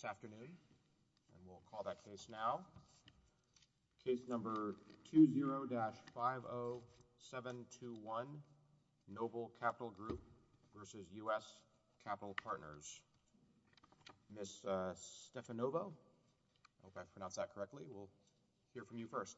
This afternoon, and we'll call that case now, case number 20-50721, Noble Capital Group versus U.S. Capital Partners. Ms. Stefanova, I hope I pronounced that correctly, we'll hear from you first.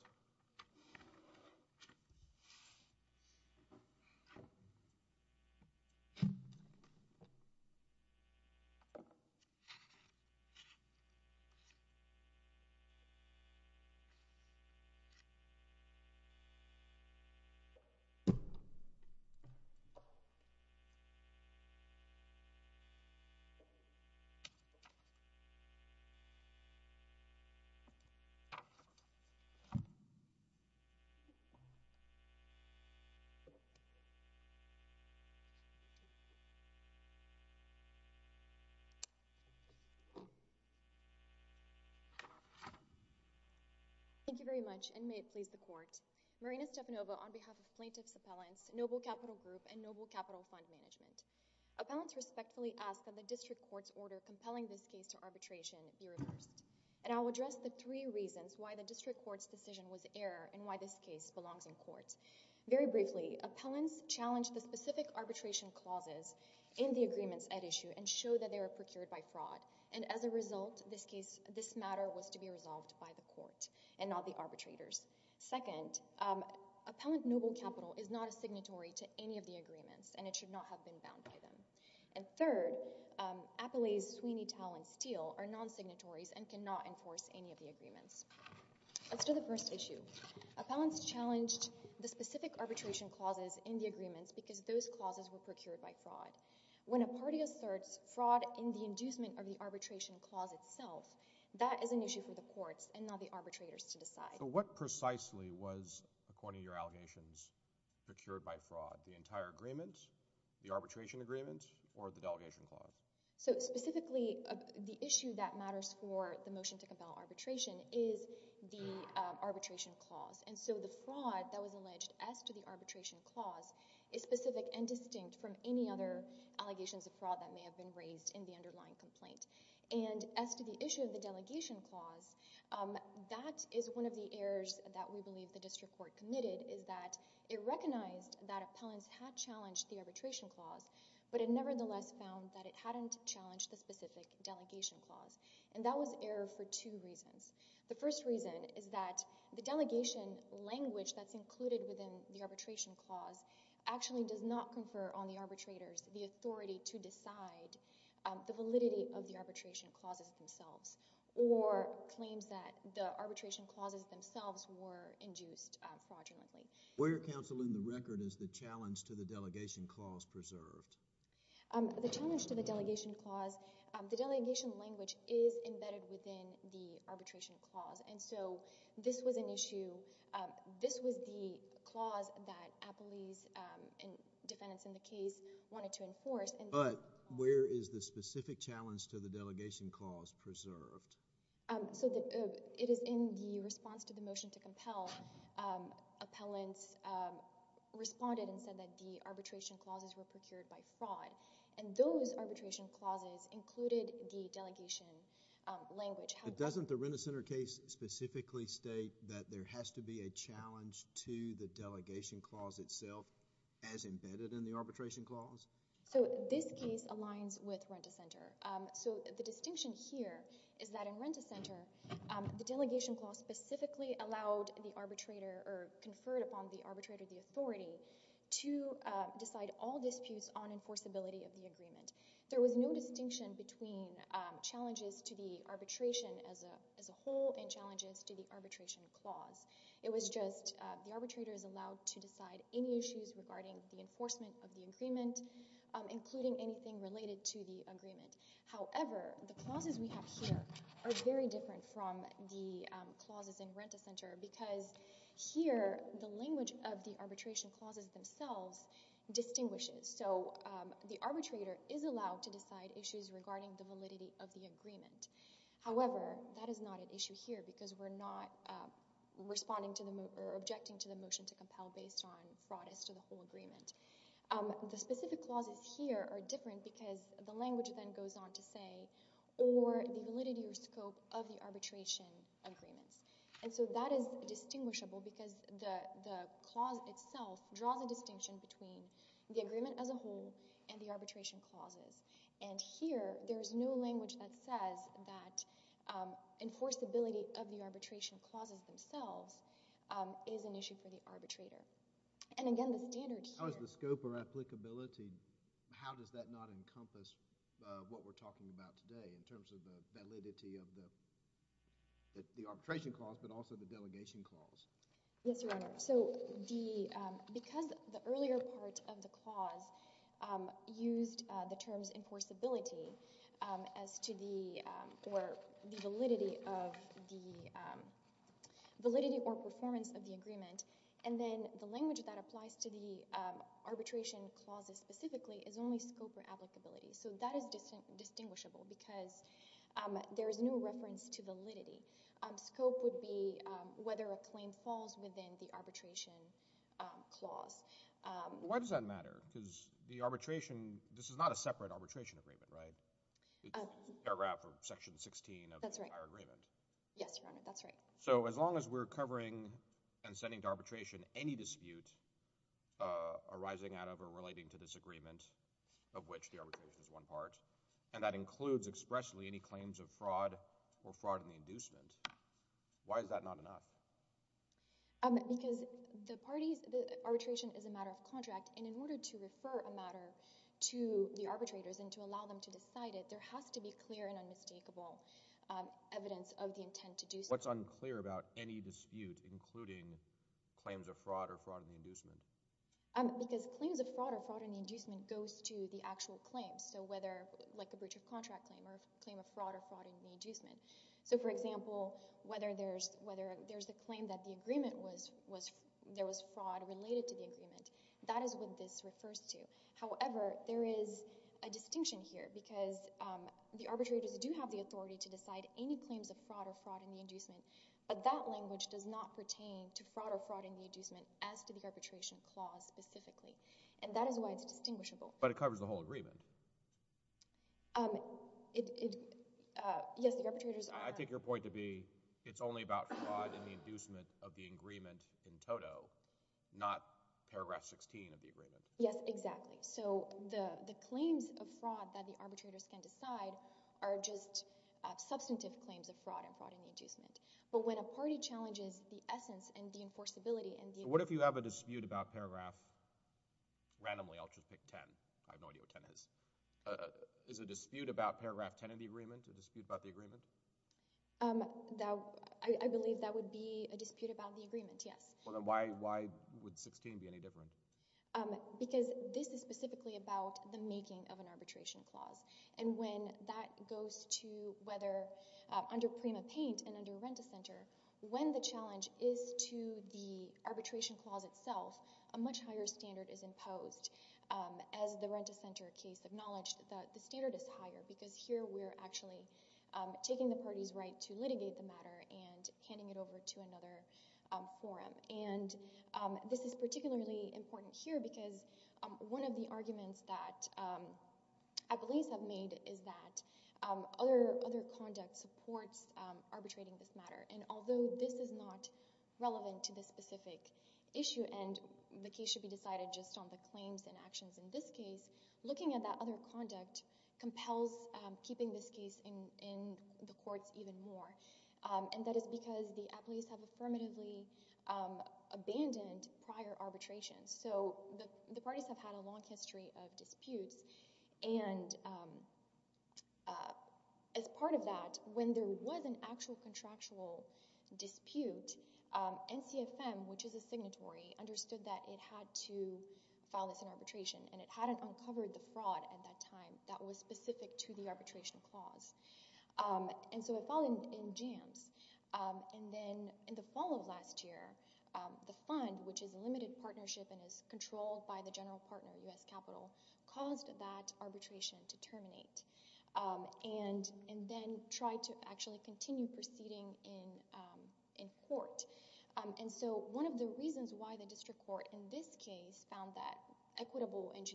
Thank you very much, and may it please the Court, Marina Stefanova on behalf of plaintiff's appellants, Noble Capital Group, and Noble Capital Fund Management. Appellants respectfully ask that the district court's order compelling this case to arbitration be reversed. And I'll address the three reasons why the district court's decision was error and why this case belongs in court. Very briefly, appellants challenge the specific arbitration clauses in the agreements at issue and show that they were procured by fraud. And as a result, this case, this matter was to be resolved by the court and not the arbitrators. Second, appellant Noble Capital is not a signatory to any of the agreements, and it should not have been bound by them. And third, Appellee's Sweeney, Tal, and Steele are non-signatories and cannot enforce any of the agreements. As to the first issue, appellants challenged the specific arbitration clauses in the agreements because those clauses were procured by fraud. When a party asserts fraud in the inducement of the arbitration clause itself, that is an issue for the courts and not the arbitrators to decide. The entire agreement, the arbitration agreement, or the delegation clause? So specifically, the issue that matters for the motion to compel arbitration is the arbitration clause. And so the fraud that was alleged as to the arbitration clause is specific and distinct from any other allegations of fraud that may have been raised in the underlying complaint. And as to the issue of the delegation clause, that is one of the errors that we believe the district court committed is that it recognized that appellants had challenged the arbitration clause, but it nevertheless found that it hadn't challenged the specific delegation clause. And that was error for two reasons. The first reason is that the delegation language that's included within the arbitration clause actually does not confer on the arbitrators the authority to decide the validity of the arbitration clauses themselves, or claims that the arbitration clauses themselves were induced fraudulently. Where, counsel, in the record is the challenge to the delegation clause preserved? The challenge to the delegation clause, the delegation language is embedded within the arbitration clause. And so this was an issue, this was the clause that appellees and defendants in the case wanted to enforce. But where is the specific challenge to the delegation clause preserved? So it is in the response to the motion to compel. Appellants responded and said that the arbitration clauses were procured by fraud. And those arbitration clauses included the delegation language. But doesn't the Renta Center case specifically state that there has to be a challenge to the delegation clause itself as embedded in the arbitration clause? So this case aligns with Renta Center. So the distinction here is that in Renta Center, the delegation clause specifically allowed the arbitrator or conferred upon the arbitrator the authority to decide all disputes on enforceability of the agreement. There was no distinction between challenges to the arbitration as a whole and challenges to the arbitration clause. It was just the arbitrator is allowed to decide any issues regarding the enforcement of the agreement. However, the clauses we have here are very different from the clauses in Renta Center because here the language of the arbitration clauses themselves distinguishes. So the arbitrator is allowed to decide issues regarding the validity of the agreement. However, that is not an issue here because we're not responding to the motion or objecting to the motion to compel based on fraud as to the whole agreement. The specific clauses here are different because the language then goes on to say or the validity or scope of the arbitration agreements. And so that is distinguishable because the clause itself draws a distinction between the agreement as a whole and the arbitration clauses. And here there is no language that says that enforceability of the arbitration clauses themselves is an issue for the arbitrator. And again, the standard here— How is the scope or applicability, how does that not encompass what we're talking about today in terms of the validity of the arbitration clause but also the delegation clause? Yes, Your Honor. So the, because the earlier part of the clause used the terms enforceability as to the, or the validity of the, validity or performance of the agreement and then the language of the clause that applies to the arbitration clauses specifically is only scope or applicability. So that is distinguishable because there is no reference to validity. Scope would be whether a claim falls within the arbitration clause. Why does that matter? Because the arbitration, this is not a separate arbitration agreement, right? It's a paragraph or section 16 of the entire agreement. That's right. Yes, Your Honor, that's right. So as long as we're covering and sending to arbitration any dispute arising out of or relating to this agreement of which the arbitration is one part, and that includes expressly any claims of fraud or fraud in the inducement, why is that not enough? Because the parties, the arbitration is a matter of contract, and in order to refer a matter to the arbitrators and to allow them to decide it, there has to be clear and unmistakable evidence of the intent to do so. What's unclear about any dispute, including claims of fraud or fraud in the inducement? Because claims of fraud or fraud in the inducement goes to the actual claims, so whether, like a breach of contract claim or a claim of fraud or fraud in the inducement. So for example, whether there's a claim that the agreement was, there was fraud related to the agreement, that is what this refers to. However, there is a distinction here because the arbitrators do have the authority to decide any claims of fraud or fraud in the inducement, but that language does not pertain to fraud or fraud in the inducement as to the arbitration clause specifically, and that is why it's distinguishable. But it covers the whole agreement. Um, it, it, uh, yes, the arbitrators are— I take your point to be it's only about fraud in the inducement of the agreement in toto, not paragraph 16 of the agreement. Yes, exactly. So the, the claims of fraud that the arbitrators can decide are just, uh, substantive claims of fraud and fraud in the inducement. But when a party challenges the essence and the enforceability and the— What if you have a dispute about paragraph—randomly, I'll just pick 10, I have no idea what 10 is. Uh, is a dispute about paragraph 10 of the agreement a dispute about the agreement? Um, that, I, I believe that would be a dispute about the agreement, yes. Well then why, why would 16 be any different? Um, because this is specifically about the making of an arbitration clause. And when that goes to whether, uh, under Prima Paint and under Rent-A-Center, when the challenge is to the arbitration clause itself, a much higher standard is imposed. Um, as the Rent-A-Center case acknowledged, the, the standard is higher because here we're actually, um, taking the party's right to litigate the matter and handing it over to another, um, forum. And, um, this is particularly important here because, um, one of the arguments that, um, at least have made is that, um, other, other conduct supports, um, arbitrating this matter. And although this is not relevant to this specific issue and the case should be decided just on the claims and actions in this case, looking at that other conduct compels, um, keeping this case in, in the courts even more. Um, and that is because the applies have affirmatively, um, abandoned prior arbitration. So the, the parties have had a long history of disputes and, um, uh, as part of that, when there was an actual contractual dispute, um, NCFM, which is a signatory, understood that it had to file this in arbitration and it hadn't uncovered the fraud at that time that was specific to the arbitration clause. Um, and so it filed in, in jams. Um, and then in the fall of last year, um, the fund, which is a limited partnership and is controlled by the general partner, U.S. Capitol, caused that arbitration to terminate. Um, and, and then tried to actually continue proceeding in, um, in court. Um, and so one of the reasons why the district court in this case found that equitable and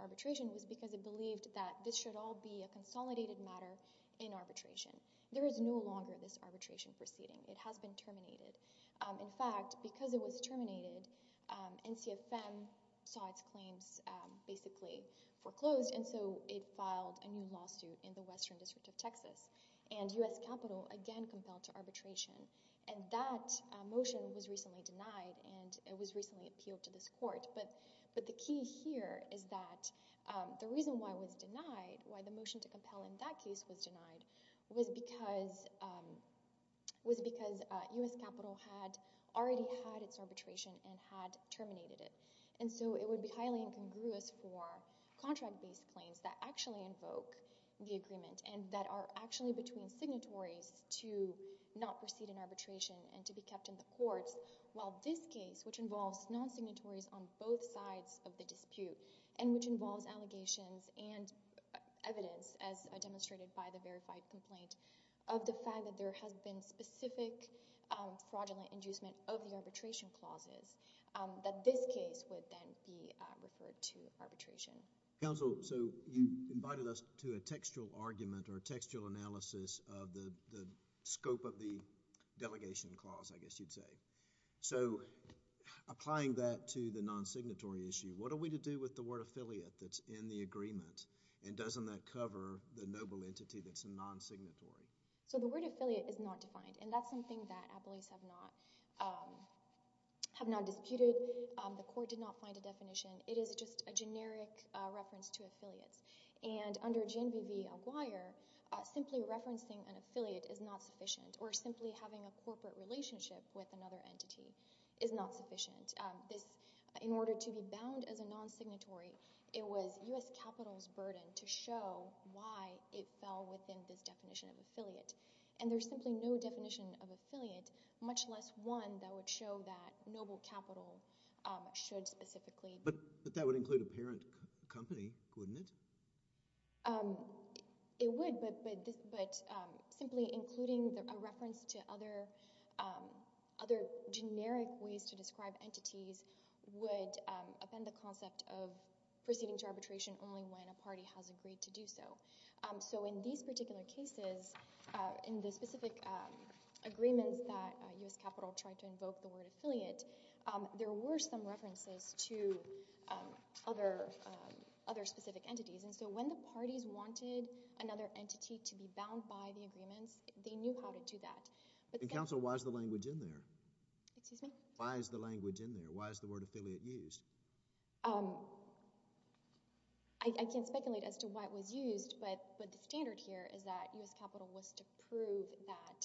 arbitration was because it believed that this should all be a consolidated matter in arbitration. There is no longer this arbitration proceeding. It has been terminated. Um, in fact, because it was terminated, um, NCFM saw its claims, um, basically foreclosed. And so it filed a new lawsuit in the Western District of Texas and U.S. Capitol again compelled to arbitration. And that motion was recently denied and it was recently appealed to this court. But, but the key here is that, um, the reason why it was denied, why the motion to compel in that case was denied was because, um, was because, uh, U.S. Capitol had already had its arbitration and had terminated it. And so it would be highly incongruous for contract-based claims that actually invoke the agreement and that are actually between signatories to not proceed in arbitration and to be kept in the courts while this case, which involves non-signatories on both sides of the dispute and which involves allegations and evidence as demonstrated by the verified complaint of the fact that there has been specific, um, fraudulent inducement of the arbitration clauses, um, that this case would then be, uh, referred to arbitration. Counsel, so you invited us to a textual argument or a textual analysis of the, the scope of the delegation clause, I guess you'd say. So applying that to the non-signatory issue, what are we to do with the word affiliate that's in the agreement and doesn't that cover the noble entity that's a non-signatory? So the word affiliate is not defined and that's something that appellees have not, um, have not disputed. Um, the court did not find a definition. It is just a generic, uh, reference to affiliates. And under GNV v. Alguirre, uh, simply referencing an affiliate is not sufficient or simply having a corporate relationship with another entity is not sufficient. Um, this, in order to be bound as a non-signatory, it was U.S. capital's burden to show why it fell within this definition of affiliate. And there's simply no definition of affiliate, much less one that would show that noble capital, um, should specifically. But, but that would include a parent company, wouldn't it? Um, it would, but, but this, but, um, simply including a reference to other, um, other generic ways to describe entities would, um, upend the concept of proceeding to arbitration only when a party has agreed to do so. Um, so in these particular cases, uh, in the specific, um, agreements that, uh, U.S. capital tried to invoke the word affiliate, um, there were some references to, um, other, um, other specific entities. And so when the parties wanted another entity to be bound by the agreements, they knew how to do that. But the— And counsel, why is the language in there? Excuse me? Why is the language in there? Why is the word affiliate used? Um, I, I can't speculate as to why it was used, but, but the standard here is that U.S. capital was to prove that,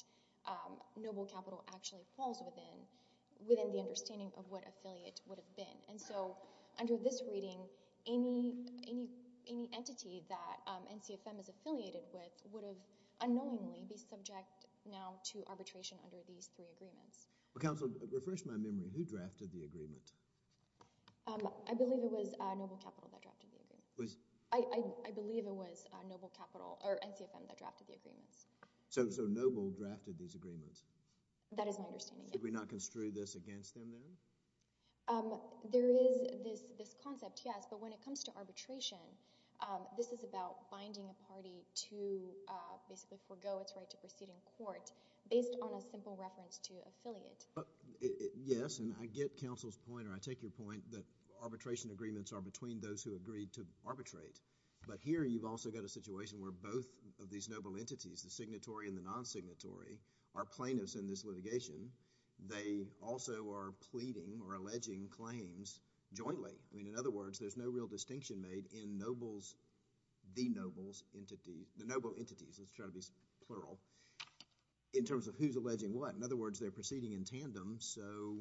um, noble capital actually falls within, within the understanding of what affiliate would have been. And so under this reading, any, any, any entity that, um, NCFM is affiliated with would have unknowingly be subject now to arbitration under these three agreements. Well, counsel, refresh my memory, who drafted the agreement? Um, I believe it was, uh, noble capital that drafted the agreement. Was— I, I, I believe it was, uh, noble capital, or NCFM that drafted the agreements. So, so noble drafted these agreements? That is my understanding, yes. Did we not construe this against them then? Um, there is this, this concept, yes, but when it comes to arbitration, um, this is about binding a party to, uh, basically forego its right to proceed in court based on a simple reference to affiliate. Uh, it, it, yes, and I get counsel's point, or I take your point that arbitration agreements are between those who agreed to arbitrate. But here you've also got a situation where both of these noble entities, the signatory and the non-signatory, are plaintiffs in this litigation. They also are pleading or alleging claims jointly. I mean, in other words, there's no real distinction made in nobles, the nobles, entity, the noble entities, let's try to be plural, in terms of who's alleging what. In other words, they're proceeding in tandem, so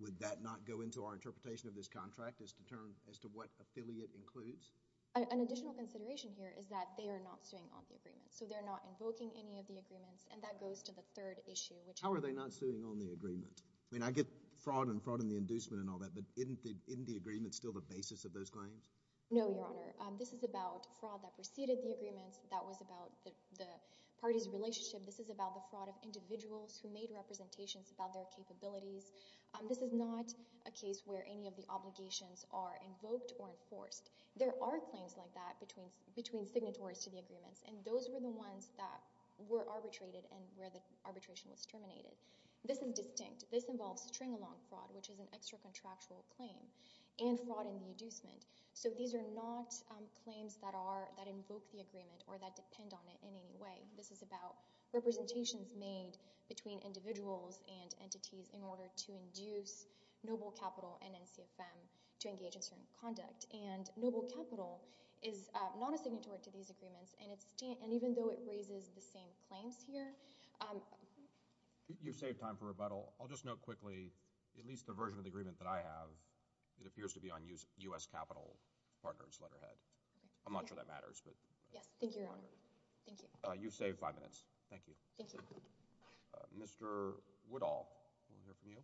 would that not go into our interpretation of this contract, as to turn, as to what affiliate includes? An additional consideration here is that they are not suing on the agreement, so they're not invoking any of the agreements, and that goes to the third issue, which is... How are they not suing on the agreement? I mean, I get fraud and fraud in the inducement and all that, but isn't the, isn't the agreement still the basis of those claims? No, Your Honor. Um, this is about fraud that preceded the agreements, that was about the, the party's relationship. This is about the fraud of individuals who made representations about their capabilities. This is not a case where any of the obligations are invoked or enforced. There are claims like that between, between signatories to the agreements, and those were the ones that were arbitrated and where the arbitration was terminated. This is distinct. This involves string-along fraud, which is an extra-contractual claim, and fraud in the inducement. So these are not, um, claims that are, that invoke the agreement, or that depend on it in any way. This is about representations made between individuals and entities in order to induce Noble Capital and NCFM to engage in certain conduct, and Noble Capital is, uh, not a signatory to these agreements, and it's, and even though it raises the same claims here, um... You've saved time for rebuttal. I'll just note quickly, at least the version of the agreement that I have, it appears to be on U.S. Capital Partners letterhead. I'm not sure that matters, but... Yes, thank you, Your Honor. Thank you. Uh, you've saved five minutes. Thank you. Thank you. Uh, Mr. Woodall. We'll hear from you.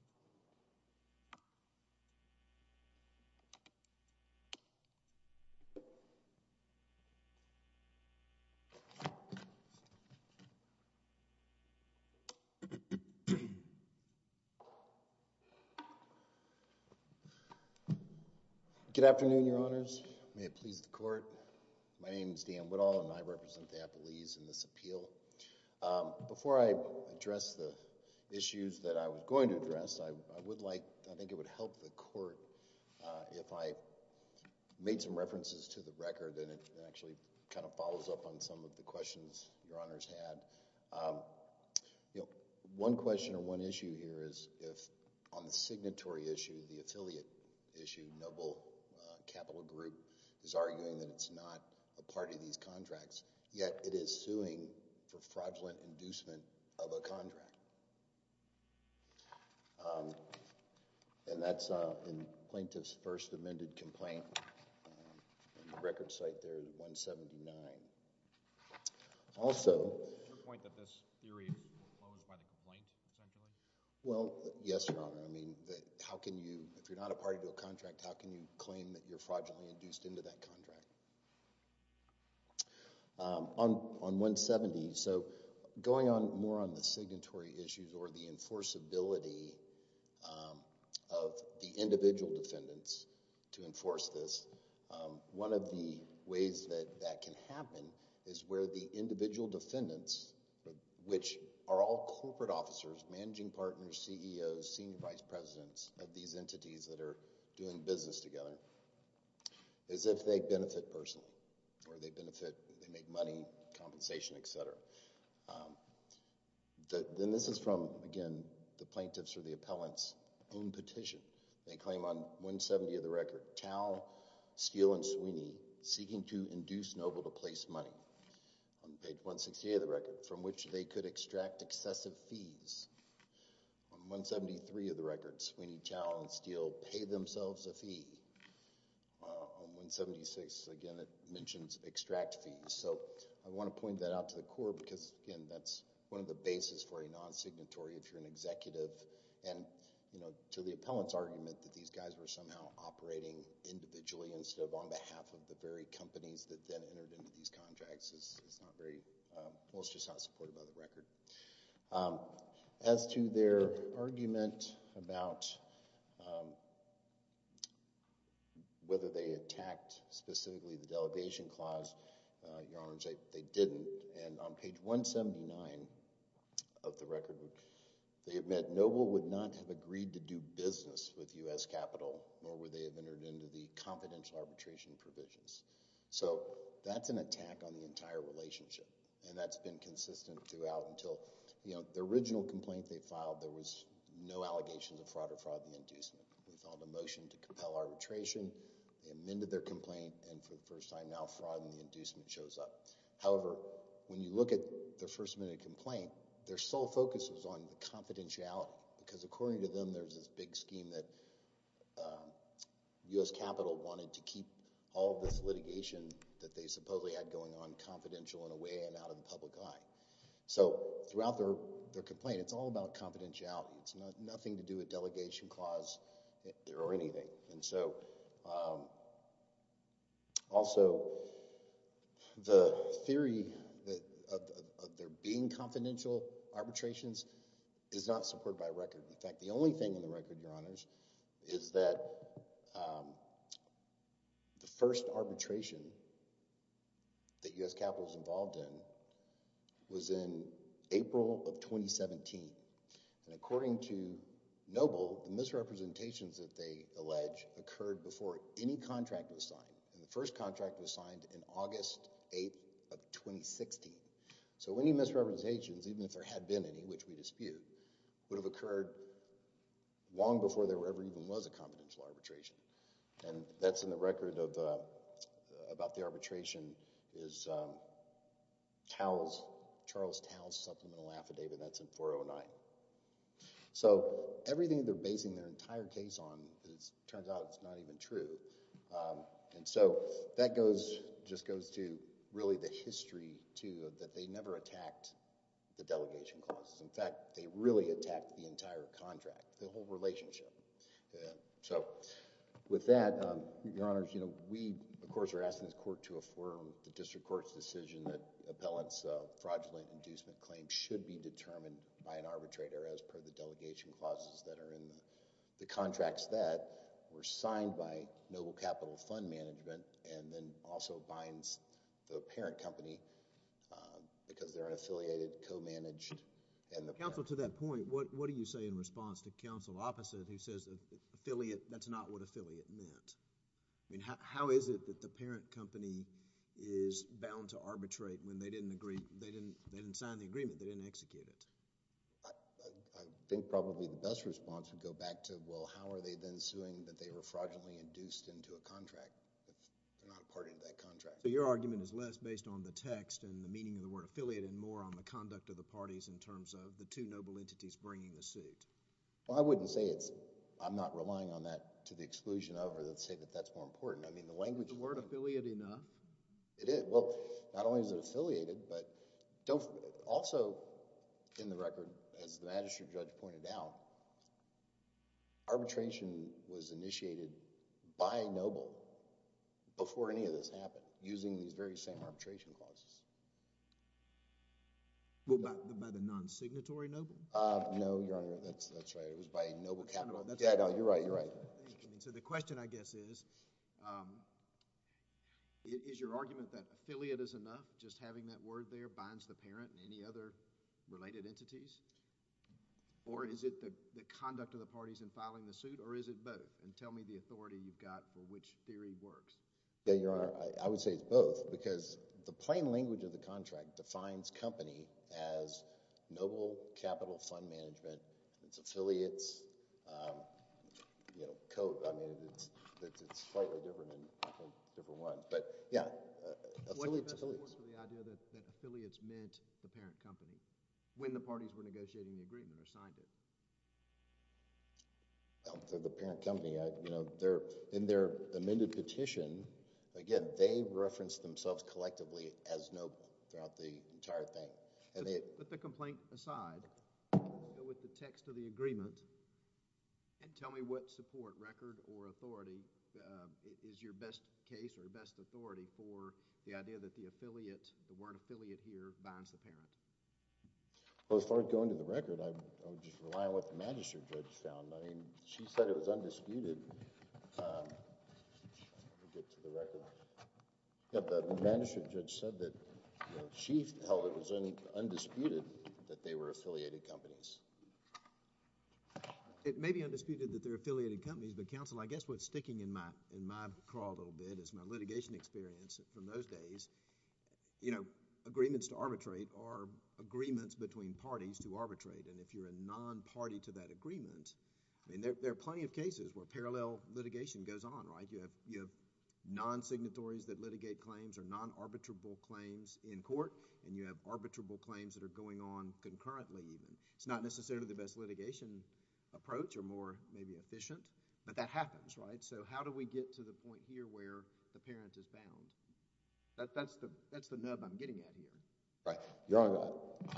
Good afternoon, Your Honors. May it please the Court. I'm a member of the U.S. Supreme Court, and I'm here to speak on this appeal. Um, before I address the issues that I was going to address, I, I would like, I think it would help the Court, uh, if I made some references to the record, and it actually kind of follows up on some of the questions Your Honors had. Um, you know, one question or one issue here is if on the signatory issue, the affiliate issue, Noble, uh, Capital Group is arguing that it's not a part of these contracts, yet it is suing for fraudulent inducement of a contract. Um, and that's, uh, in Plaintiff's first amended complaint, um, on the record site there, 179. Also... Is your point that this theory is enclosed by the complaint, essentially? Well, yes, Your Honor. I mean, how can you, if you're not a party to a contract, how can you claim that you're on 170? So, going on, more on the signatory issues or the enforceability, um, of the individual defendants to enforce this, um, one of the ways that, that can happen is where the individual defendants, which are all corporate officers, managing partners, CEOs, senior vice presidents of these entities that are doing business together, is if they benefit personally, or if they benefit, they make money, compensation, et cetera. Um, then this is from, again, the plaintiff's or the appellant's own petition. They claim on 170 of the record, Tao, Steele, and Sweeney seeking to induce Noble to place money, on page 168 of the record, from which they could extract excessive fees. On 173 of the record, Sweeney, Tao, and Steele pay themselves a fee. On 176, again, it mentions extract fees. So, I want to point that out to the court because, again, that's one of the bases for a non-signatory if you're an executive. And, you know, to the appellant's argument that these guys were somehow operating individually instead of on behalf of the very companies that then entered into these contracts is not very, um, well, it's just not supported by the record. Um, as to their argument about, um, whether they attacked specifically the delegation clause, uh, Your Honors, they didn't. And on page 179 of the record, they admit Noble would not have agreed to do business with U.S. Capital nor would they have entered into the confidential arbitration provisions. So, that's an attack on the entire relationship. And that's been consistent throughout until, you know, the original complaint they filed, there was no allegations of fraud or fraud in the inducement. We filed a motion to compel arbitration, they amended their complaint, and for the first time now, fraud in the inducement shows up. However, when you look at their first minute complaint, their sole focus was on confidentiality. Because according to them, there's this big scheme that, um, U.S. Capital wanted to keep all of this litigation that they supposedly had going on confidential in a way and out of the public eye. So, throughout their complaint, it's all about confidentiality. It's nothing to do with delegation clause or anything. And so, um, also, the theory of there being confidential arbitrations is not supported by record. In fact, the only thing in the record, your honors, is that, um, the first arbitration that U.S. Capital was involved in was in April of 2017. And according to Noble, the misrepresentations that they allege occurred before any contract was signed. And the first contract was signed in August 8th of 2016. So, any misrepresentations, even if there had been any, which we dispute, would have occurred long before there ever even was a confidential arbitration. And that's in the record of, uh, about the arbitration is, um, Taos, Charles Taos Supplemental Affidavit. That's in 409. So, everything they're basing their entire case on, it turns out it's not even true. Um, and so, that goes, just goes to really the history, too, that they never attacked the delegation clauses. In fact, they really attacked the entire contract, the whole relationship. So, with that, um, your honors, you know, we, of course, are asking this court to affirm the district court's decision that appellant's fraudulent inducement claim should be determined by an arbitrator as per the delegation clauses that are in the contracts that were signed by Noble Capital Fund Management, and then also binds the parent company, um, because they're an affiliated, co-managed, and the parent... Counsel, to that point, what, what do you say in response to counsel opposite who says affiliate, that's not what affiliate meant? I mean, how, how is it that the parent company is bound to arbitrate when they didn't agree, they didn't, they didn't sign the agreement, they didn't execute it? I, I, I think probably the best response would go back to, well, how are they then suing that they were fraudulently induced into a contract if they're not a part of that contract? So, your argument is less based on the text and the meaning of the word affiliate and more on the conduct of the parties in terms of the two noble entities bringing the suit? Well, I wouldn't say it's, I'm not relying on that to the exclusion of, or let's say that that's more important. I mean, the language... Is the word affiliate enough? It is. Well, not only is it affiliated, but don't, also, in the record, as the magistrate judge pointed out, arbitration was initiated by a noble before any of this happened, using these very same arbitration clauses. Well, by, by the non-signatory noble? Uh, no, Your Honor, that's, that's right. It was by a noble capital... That's right. Yeah, no, you're right, you're right. So, the question, I guess, is, um, is, is your argument that affiliate is enough, just having that word there binds the parent and any other related entities? Or is it the, the conduct of the parties in filing the suit, or is it both? And tell me the authority you've got for which theory works. Yeah, Your Honor, I, I would say it's both, because the plain language of the contract defines company as noble capital fund management, it's affiliates, um, you know, co, I mean, it's, it's, it's slightly different than, I think, different ones, but, yeah, affiliates, affiliates... Well, the parent company, I, you know, their, in their amended petition, again, they referenced themselves collectively as noble throughout the entire thing, and they... So, put the complaint aside, go with the text of the agreement, and tell me what support record or authority, um, is your best case or your best authority for the idea that the Well, as far as going to the record, I, I would just rely on what the Magistrate Judge found. I mean, she said it was undisputed, um, let me get to the record. Yeah, but the Magistrate Judge said that, you know, she held it was undisputed that they were affiliated companies. It may be undisputed that they're affiliated companies, but Counsel, I guess what's sticking in my, in my crawled old bed is my litigation experience from those days. You know, agreements to arbitrate are agreements between parties to arbitrate, and if you're a non-party to that agreement, I mean, there, there are plenty of cases where parallel litigation goes on, right? You have, you have non-signatories that litigate claims or non-arbitrable claims in court, and you have arbitrable claims that are going on concurrently, even. It's not necessarily the best litigation approach or more, maybe, efficient, but that happens, right? So, how do we get to the point here where the parent is bound? That, that's the, that's the nub I'm getting at here. Right. Your Honor,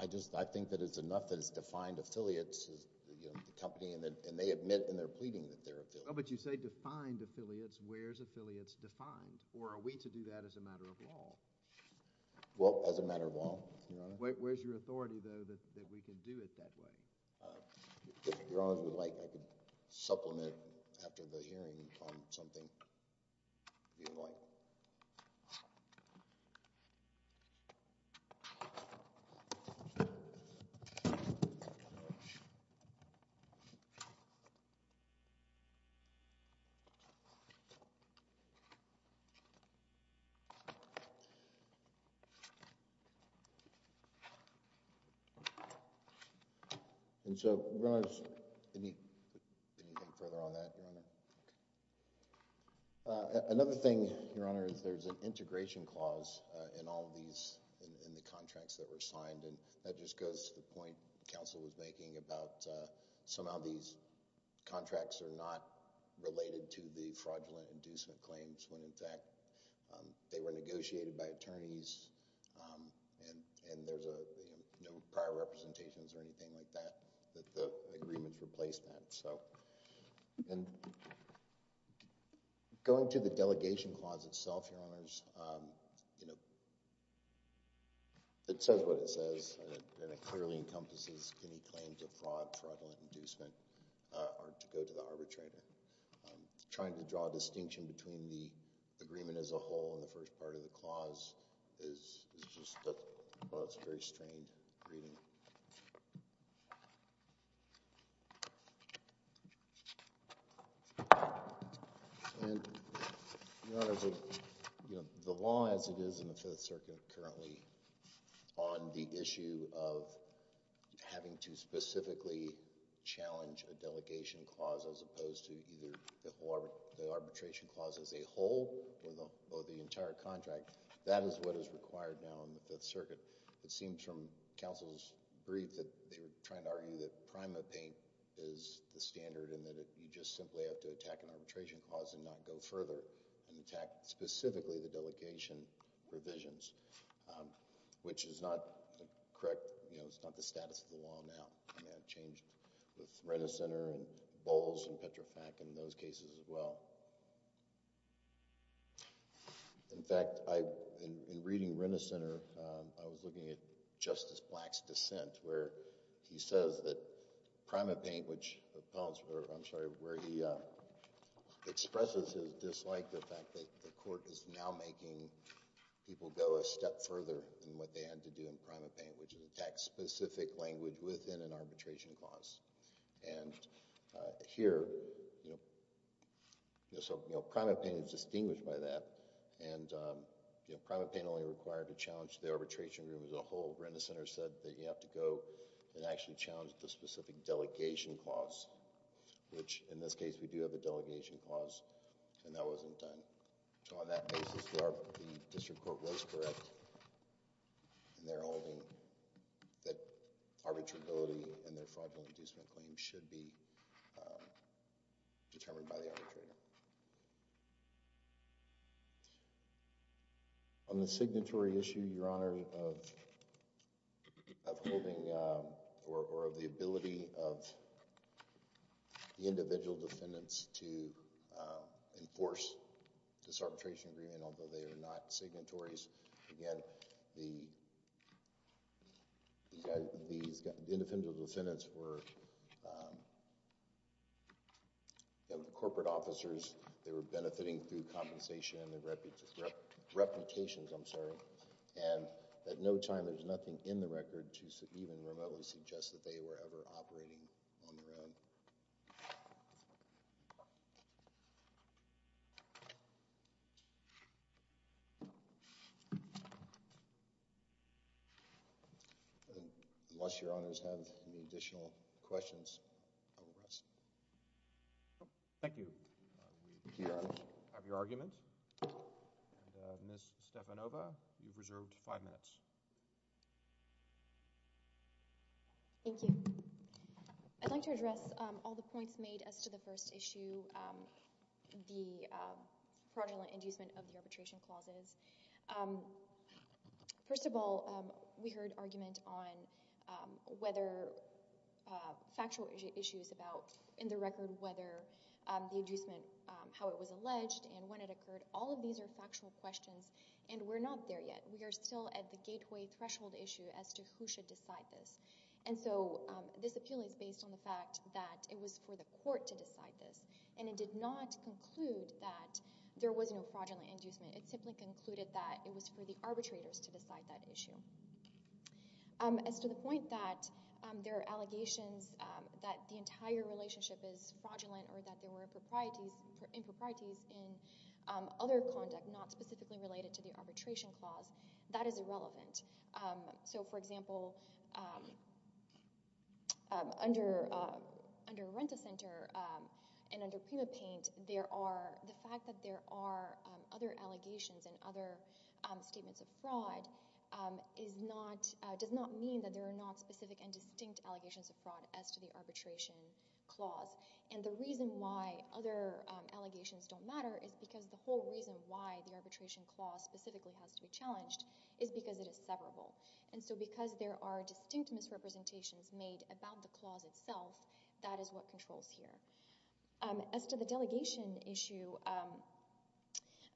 I just, I think that it's enough that it's defined affiliates as, you know, the company, and then, and they admit and they're pleading that they're affiliated. Oh, but you say defined affiliates. Where's affiliates defined? Or are we to do that as a matter of law? Well, as a matter of law, Your Honor. Where, where's your authority, though, that, that we can do it that way? If Your Honor would like, I could supplement after the hearing on something. If you'd like. And so, Your Honor, any, anything further on that, Your Honor? Okay. Another thing, Your Honor, is there's an integration clause in all of these, in, in the contracts that were signed, and that just goes to the point counsel was making about somehow these contracts are not related to the fraudulent inducement claims when, in fact, they were negotiated by attorneys and, and there's a, you know, no prior representations or anything like that, that the agreements replace that. So, and going to the delegation clause itself, Your Honors, you know, it says what it says, and it clearly encompasses any claim to fraud, fraudulent inducement, or to go to the arbitrator. Trying to draw a distinction between the agreement as a whole and the first part of the clause is, is just a, well, it's a very strained reading. And, Your Honor, the, you know, the law as it is in the Fifth Circuit currently on the issue of having to specifically challenge a delegation clause as opposed to either the arbitration clause as a whole or the, or the entire contract, that is what is required now in the Fifth Circuit. It seems from counsel's brief that they were trying to argue that prima paint is the standard and that it, you just simply have to attack an arbitration clause and not go further and attack specifically the delegation provisions, which is not correct, you know, it's not the status of the law now. And that changed with Renner Center and Bowles and Petrofac in those cases as well. In fact, I, in reading Renner Center, I was looking at Justice Black's dissent where he says that prima paint, which, I'm sorry, where he expresses his dislike, the fact that the court is now making people go a step further than what they had to do in prima paint, which is attack specific language within an arbitration clause. And here, you know, so, you know, prima paint is distinguished by that and, you know, prima paint only required to challenge the arbitration rule as a whole. Renner Center said that you have to go and actually challenge the specific delegation clause, which in this case we do have a delegation clause and that wasn't done. So on that basis, the district court was correct in their holding that arbitrability and their fraudulent inducement claim should be determined by the arbitrator. On the signatory issue, Your Honor, of holding or of the ability of the individual defendants to enforce this arbitration agreement, although they are not signatories, again, the individual defendants were corporate officers, they were benefiting through compensation and their reputations, I'm sorry, and at no time there's nothing in the record to even remotely suggest that they were ever operating on their own. Unless Your Honors have any additional questions, I will rest. Thank you. Thank you, Your Honor. We have your argument. Ms. Stefanova, you've reserved five minutes. Thank you. I'd like to address all the points made as to the first issue, the fraudulent inducement of the arbitration clauses. First of all, we heard argument on whether factual issues about, in the record, whether the inducement, how it was alleged and when it occurred, all of these are factual questions and we're not there yet. We are still at the gateway threshold issue as to who should decide this. And so this appeal is based on the fact that it was for the court to decide this and it did not conclude that there was no fraudulent inducement. It simply concluded that it was for the arbitrators to decide that issue. As to the point that there are allegations that the entire relationship is fraudulent or that there were improprieties in other conduct not specifically related to the arbitration clause, that is irrelevant. So, for example, under Rent-A-Center and under PrimaPaint, the fact that there are other allegations and other statements of fraud does not mean that there are not specific and distinct allegations of fraud as to the arbitration clause. And the reason why other allegations don't matter is because the whole reason why the And so because there are distinct misrepresentations made about the clause itself, that is what controls here. As to the delegation issue,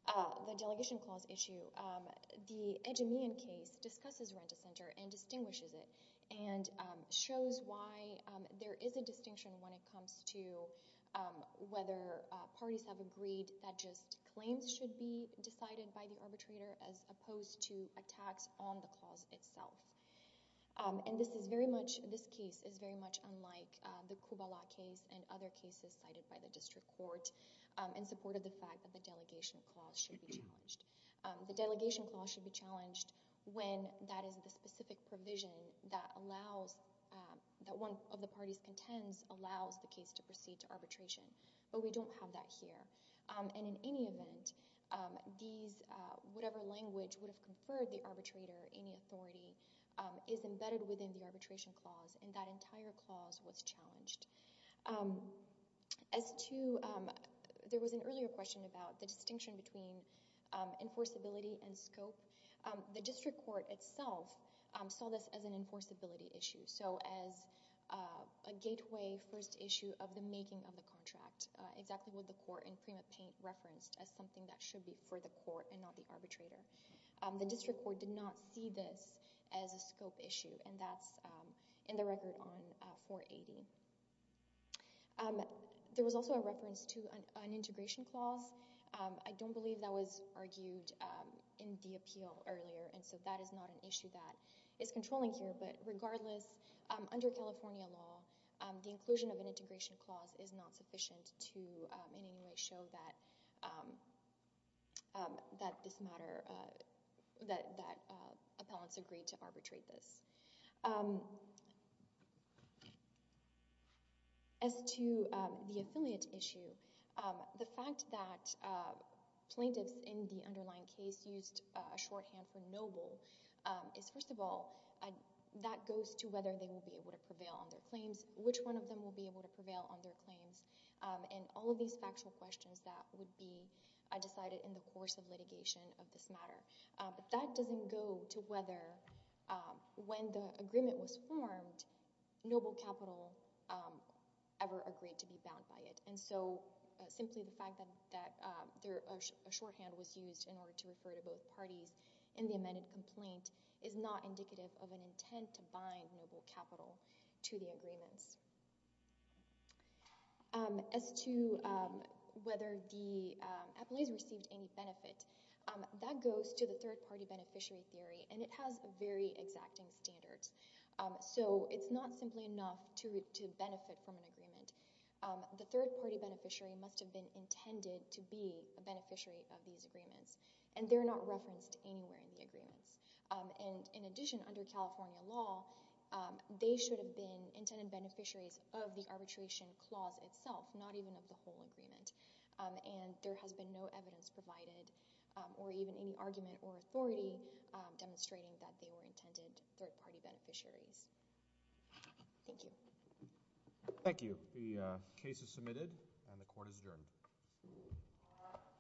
the delegation clause issue, the Edgemean case discusses Rent-A-Center and distinguishes it and shows why there is a distinction when it comes to whether parties have agreed that just claims should be decided by the arbitrator as opposed to attacks on the clause itself. And this case is very much unlike the Kubala case and other cases cited by the district court in support of the fact that the delegation clause should be challenged. The delegation clause should be challenged when that is the specific provision that one of the parties contends allows the case to proceed to arbitration. But we don't have that here. And in any event, whatever language would have conferred the arbitrator any authority is embedded within the arbitration clause and that entire clause was challenged. As to, there was an earlier question about the distinction between enforceability and scope. The district court itself saw this as an enforceability issue, so as a gateway first issue of the Supreme Court. The Supreme Court did not see this as a scope issue, and that's in the record on 480. There was also a reference to an integration clause. I don't believe that was argued in the appeal earlier, and so that is not an issue that is controlling here. But regardless, under California law, the inclusion of an integration clause is not sufficient to in any way show that this matter, that appellants agreed to arbitrate this. As to the affiliate issue, the fact that plaintiffs in the underlying case used a shorthand for noble is, first of all, that goes to whether they will be able to prevail on their claims, which one of them will be able to prevail on their claims, and all of these factual questions that would be decided in the course of litigation of this matter. But that doesn't go to whether, when the agreement was formed, noble capital ever agreed to be bound by it. And so simply the fact that a shorthand was used in order to refer to both parties in to bind noble capital to the agreements. As to whether the appellees received any benefit, that goes to the third-party beneficiary theory, and it has very exacting standards. So it's not simply enough to benefit from an agreement. The third-party beneficiary must have been intended to be a beneficiary of these agreements, and they're not referenced anywhere in the agreements. And in addition, under California law, they should have been intended beneficiaries of the arbitration clause itself, not even of the whole agreement. And there has been no evidence provided or even any argument or authority demonstrating that they were intended third-party beneficiaries. Thank you. Thank you. The case is submitted and the court is adjourned.